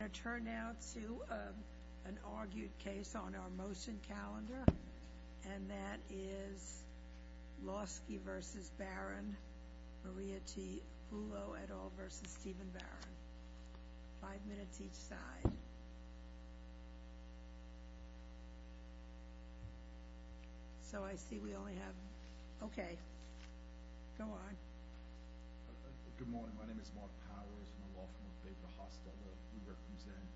I'm going to turn now to an argued case on our motion calendar, and that is Lawsky v. Barron, Maria T. Hulot et al. v. Stephen Barron. Five minutes each side. So I see we only have... Okay. Go on. Good morning. My name is Mark Powers. I'm a law firm with Bayford Hosteller. We represent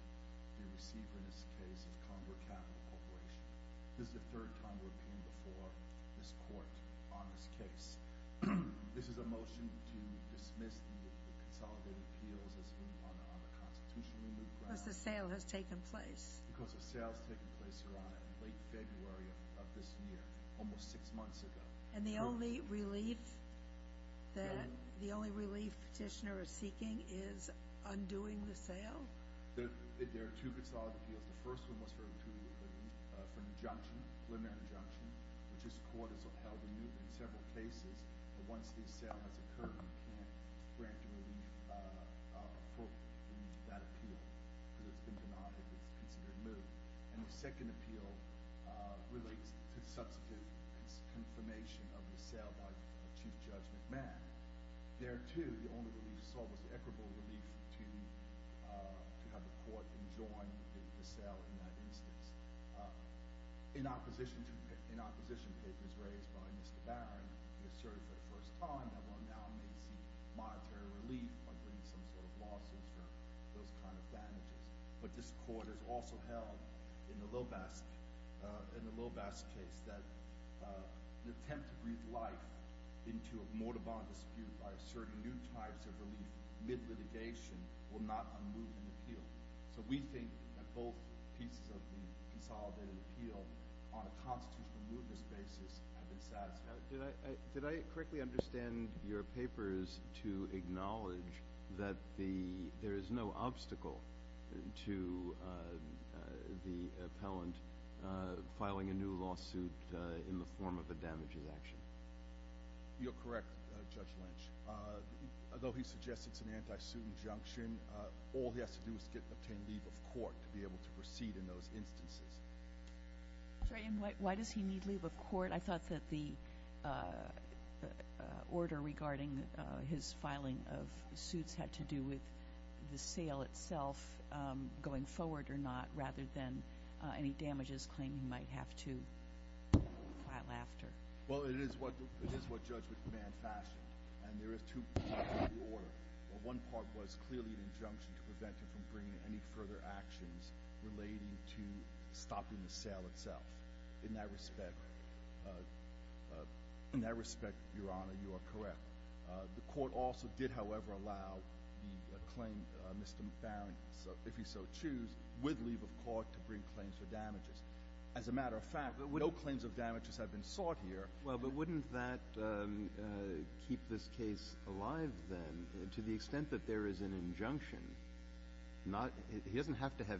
the receiver in this case of Condor Capital Corporation. This is the third time we've appealed before this court on this case. This is a motion to dismiss the consolidated appeals as being on a constitutionally new ground. Because the sale has taken place. Because the sale has taken place, Your Honor, in late February of this year, almost six months ago. And the only relief that, the only relief petitioner is seeking is undoing the sale? There are two consolidated appeals. The first one was for an injunction, preliminary injunction, which this court has held anew in several cases. But once the sale has occurred, you can't grant a relief for that appeal. Because it's been denied if it's considered litigant. And the second appeal relates to substantive confirmation of the sale by Chief Judge McMahon. There, too, the only relief sought was equitable relief to have the court enjoin the sale in that instance. In opposition papers raised by Mr. Barron, he asserted for the first time that one now may seek monetary relief by bringing some sort of lawsuits for those kind of damages. But this court has also held in the Lobas case that an attempt to breathe life into a mortibond dispute by asserting new types of relief mid-litigation will not unmove an appeal. So we think that both pieces of the consolidated appeal on a constitutional mootness basis have been satisfied. Did I correctly understand your papers to acknowledge that there is no obstacle to the appellant filing a new lawsuit in the form of a damages action? You're correct, Judge Lynch. Although he suggests it's an anti-suit injunction, all he has to do is obtain leave of court to be able to proceed in those instances. Why does he need leave of court? I thought that the order regarding his filing of suits had to do with the sale itself going forward or not, rather than any damages claim he might have to file after. Well, it is what Judge McMahon fashioned. And there are two parts of the order. Well, one part was clearly an injunction to prevent him from bringing any further actions relating to stopping the sale itself. In that respect, Your Honor, you are correct. The court also did, however, allow the claim, Mr. Barron, if you so choose, with leave of court to bring claims for damages. As a matter of fact, no claims of damages have been sought here. Well, but wouldn't that keep this case alive, then, to the extent that there is an injunction? He doesn't have to have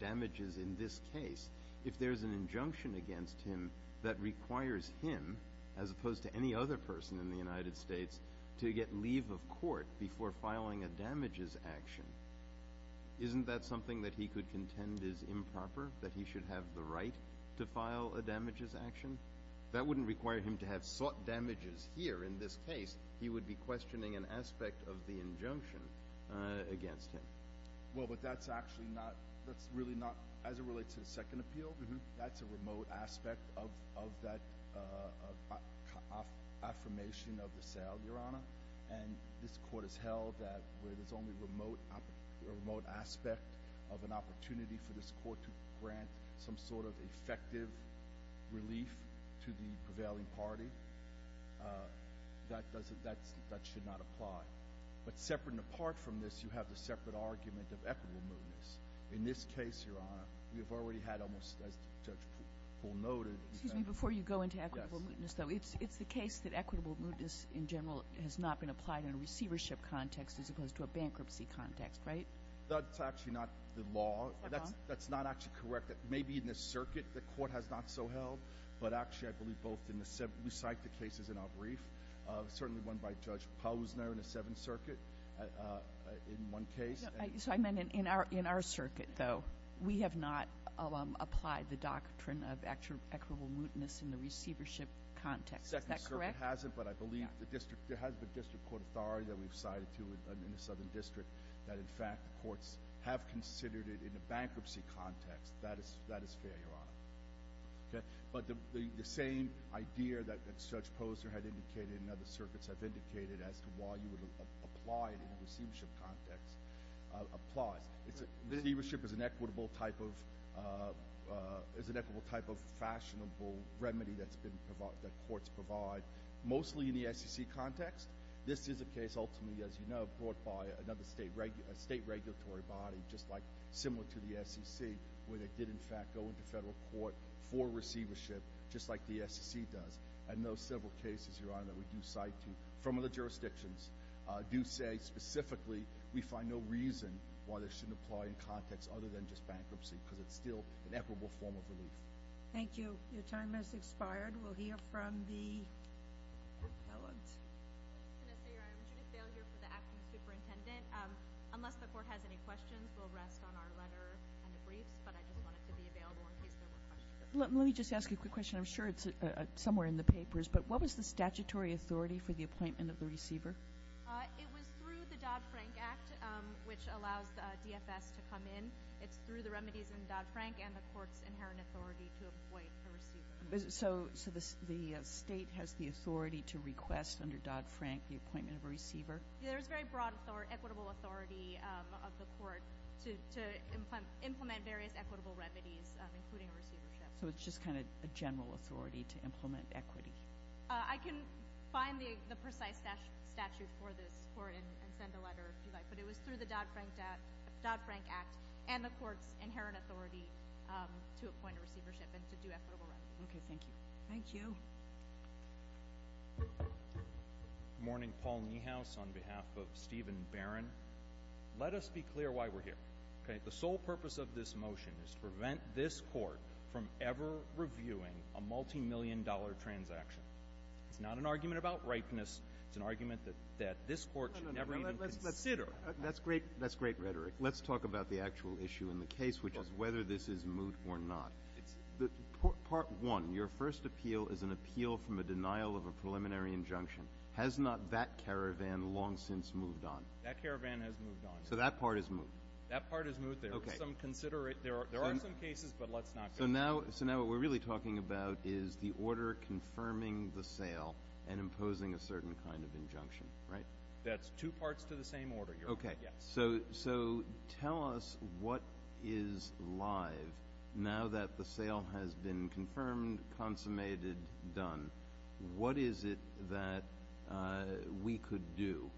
damages in this case. If there is an injunction against him that requires him, as opposed to any other person in the United States, to get leave of court before filing a damages action, isn't that something that he could contend is improper, that he should have the right to file a damages action? That wouldn't require him to have sought damages here in this case. He would be questioning an aspect of the injunction against him. Well, but that's actually not – that's really not – as it relates to the second appeal, that's a remote aspect of that affirmation of the sale, Your Honor. And this Court has held that where there's only a remote aspect of an opportunity for this Court to grant some sort of effective relief to the prevailing party, that doesn't – that should not apply. But separate and apart from this, you have the separate argument of equitable mootness. In this case, Your Honor, we have already had almost, as Judge Poole noted – Excuse me. Before you go into equitable mootness, though, it's the case that equitable mootness in general has not been applied in a receivership context as opposed to a bankruptcy context, right? That's actually not the law. Is that wrong? That's not actually correct. Maybe in this circuit the Court has not so held, but actually I believe both in the – we cite the cases in our brief, certainly one by Judge Posner in the Seventh Circuit in one case. So I meant in our circuit, though. We have not applied the doctrine of equitable mootness in the receivership context. Is that correct? The Second Circuit hasn't, but I believe the district – there has been district court authority that we've cited to in the Southern District that, in fact, the courts have considered it in a bankruptcy context. That is fair, Your Honor. Okay? But the same idea that Judge Posner had indicated and other circuits have indicated as to why you would apply it in a receivership context applies. Receivership is an equitable type of fashionable remedy that courts provide, mostly in the SEC context. This is a case, ultimately, as you know, brought by another state regulatory body, just like – similar to the SEC, where they did, in fact, go into federal court for receivership, just like the SEC does. And those several cases, Your Honor, that we do cite to from other jurisdictions do say, specifically, we find no reason why this shouldn't apply in context other than just bankruptcy because it's still an equitable form of relief. Thank you. Your time has expired. We'll hear from the appellant. I'm Judith Bale here for the Acting Superintendent. Unless the court has any questions, we'll rest on our letter and the briefs, but I just want it to be available in case there were questions. Let me just ask you a quick question. I'm sure it's somewhere in the papers, but what was the statutory authority for the appointment of the receiver? It was through the Dodd-Frank Act, which allows the DFS to come in. It's through the remedies in Dodd-Frank and the court's inherent authority to appoint a receiver. So the state has the authority to request, under Dodd-Frank, the appointment of a receiver? There is very broad equitable authority of the court to implement various equitable remedies, including receivership. So it's just kind of a general authority to implement equity. I can find the precise statute for this and send a letter if you like, but it was through the Dodd-Frank Act and the court's inherent authority to appoint a receivership and to do equitable remedies. Okay. Thank you. Thank you. Good morning. Paul Niehaus on behalf of Stephen Barron. Let us be clear why we're here. The sole purpose of this motion is to prevent this court from ever reviewing a multimillion-dollar transaction. It's not an argument about ripeness. It's an argument that this court should never even consider. That's great rhetoric. Let's talk about the actual issue in the case, which is whether this is moot or not. Part one, your first appeal is an appeal from a denial of a preliminary injunction. Has not that caravan long since moved on? That caravan has moved on. So that part is moot. That part is moot. There are some cases, but let's not go there. So now what we're really talking about is the order confirming the sale and imposing a certain kind of injunction, right? That's two parts to the same order, Your Honor. Okay. So tell us what is live now that the sale has been confirmed, consummated, done. What is it that we could do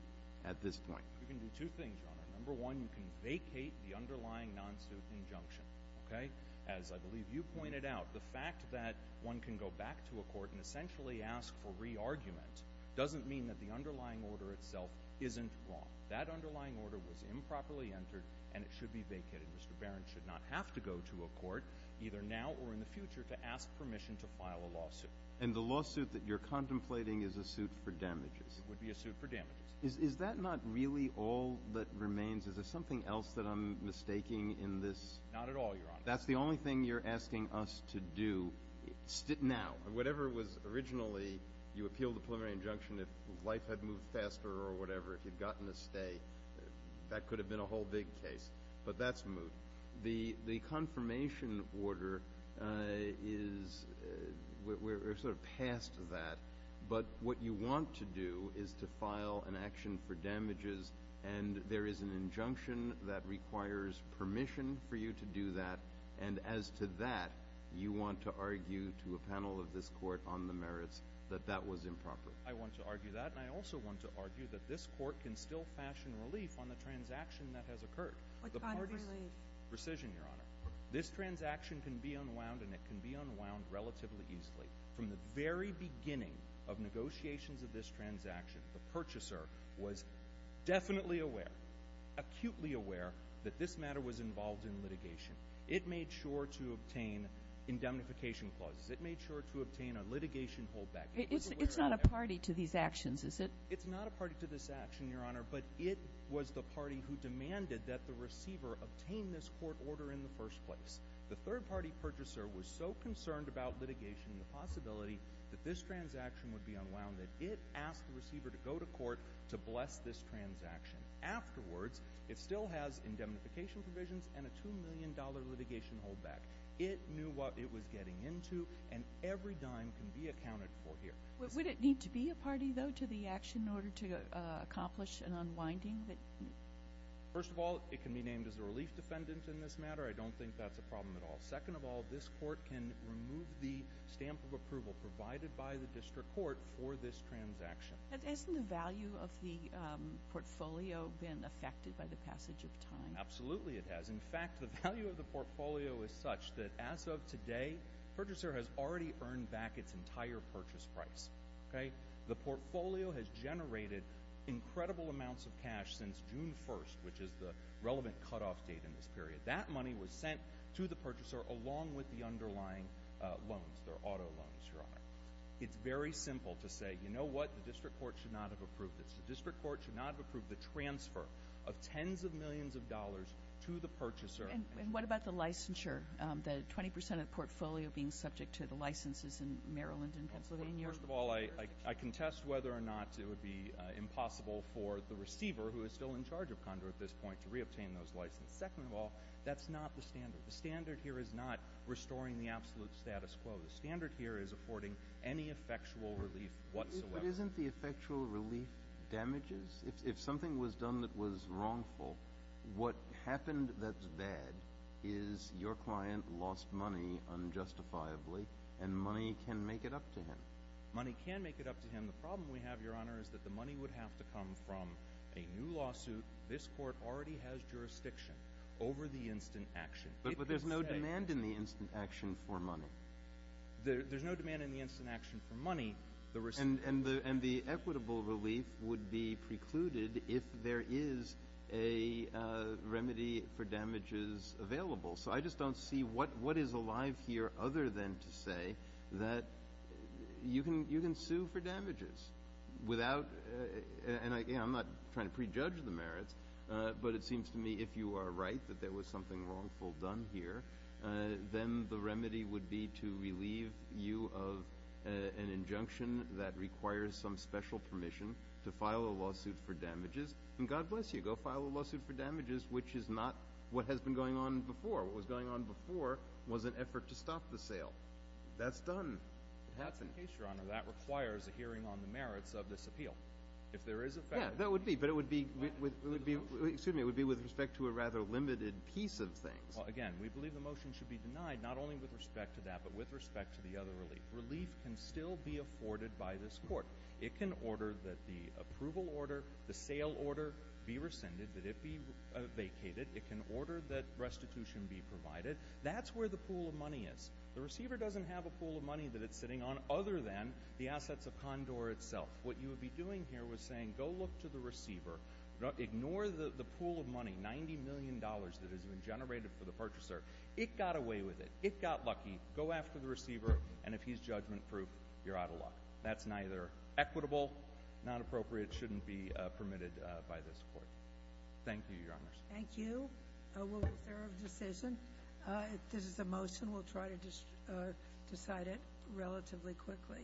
at this point? You can do two things, Your Honor. Number one, you can vacate the underlying non-suit injunction, okay? As I believe you pointed out, the fact that one can go back to a court and essentially ask for re-argument doesn't mean that the underlying order itself isn't wrong. That underlying order was improperly entered, and it should be vacated. Mr. Barron should not have to go to a court, either now or in the future, to ask permission to file a lawsuit. And the lawsuit that you're contemplating is a suit for damages. It would be a suit for damages. Is that not really all that remains? Is there something else that I'm mistaking in this? Not at all, Your Honor. That's the only thing you're asking us to do now? Whatever was originally you appealed the preliminary injunction, if life had moved faster or whatever, if you'd gotten a stay, that could have been a whole big case. But that's moved. The confirmation order is sort of past that, but what you want to do is to file an action for damages, and there is an injunction that requires permission for you to do that. And as to that, you want to argue to a panel of this court on the merits that that was improper. I want to argue that, and I also want to argue that this court can still fashion relief on the transaction that has occurred. What kind of relief? Precision, Your Honor. This transaction can be unwound, and it can be unwound relatively easily. From the very beginning of negotiations of this transaction, the purchaser was definitely aware, acutely aware, that this matter was involved in litigation. It made sure to obtain indemnification clauses. It made sure to obtain a litigation holdback. It's not a party to these actions, is it? It's not a party to this action, Your Honor, but it was the party who demanded that the receiver obtain this court order in the first place. The third-party purchaser was so concerned about litigation and the possibility that this transaction would be unwound that it asked the receiver to go to court to bless this transaction. Afterwards, it still has indemnification provisions and a $2 million litigation holdback. It knew what it was getting into, and every dime can be accounted for here. Would it need to be a party, though, to the action in order to accomplish an unwinding? First of all, it can be named as a relief defendant in this matter. I don't think that's a problem at all. Second of all, this court can remove the stamp of approval provided by the district court for this transaction. Hasn't the value of the portfolio been affected by the passage of time? Absolutely it has. In fact, the value of the portfolio is such that as of today, the purchaser has already earned back its entire purchase price. The portfolio has generated incredible amounts of cash since June 1st, which is the relevant cutoff date in this period. That money was sent to the purchaser along with the underlying loans, their auto loans, Your Honor. It's very simple to say, you know what, the district court should not have approved this. The district court should not have approved the transfer of tens of millions of dollars to the purchaser. And what about the licensure, the 20% of the portfolio being subject to the licenses in Maryland and Pennsylvania? First of all, I contest whether or not it would be impossible for the receiver, who is still in charge of Condor at this point, to reobtain those licenses. Second of all, that's not the standard. The standard here is not restoring the absolute status quo. The standard here is affording any effectual relief whatsoever. But isn't the effectual relief damages? If something was done that was wrongful, what happened that's bad is your client lost money unjustifiably, and money can make it up to him. Money can make it up to him. The problem we have, Your Honor, is that the money would have to come from a new lawsuit. This court already has jurisdiction over the instant action. But there's no demand in the instant action for money. There's no demand in the instant action for money. And the equitable relief would be precluded if there is a remedy for damages available. So I just don't see what is alive here other than to say that you can sue for damages. And I'm not trying to prejudge the merits, but it seems to me if you are right that there was something wrongful done here, then the remedy would be to relieve you of an injunction that requires some special permission to file a lawsuit for damages. And God bless you. Go file a lawsuit for damages, which is not what has been going on before. What was going on before was an effort to stop the sale. That's done. That's the case, Your Honor. That requires a hearing on the merits of this appeal. If there is a factual relief. Yeah, that would be. But it would be with respect to a rather limited piece of things. Again, we believe the motion should be denied not only with respect to that but with respect to the other relief. Relief can still be afforded by this court. It can order that the approval order, the sale order be rescinded, that it be vacated. It can order that restitution be provided. That's where the pool of money is. The receiver doesn't have a pool of money that it's sitting on other than the assets of Condor itself. Ignore the pool of money, $90 million that has been generated for the purchaser. It got away with it. It got lucky. Go after the receiver. And if he's judgment-proof, you're out of luck. That's neither equitable, not appropriate, shouldn't be permitted by this court. Thank you, Your Honors. Thank you. Was there a decision? This is a motion. We'll try to decide it relatively quickly.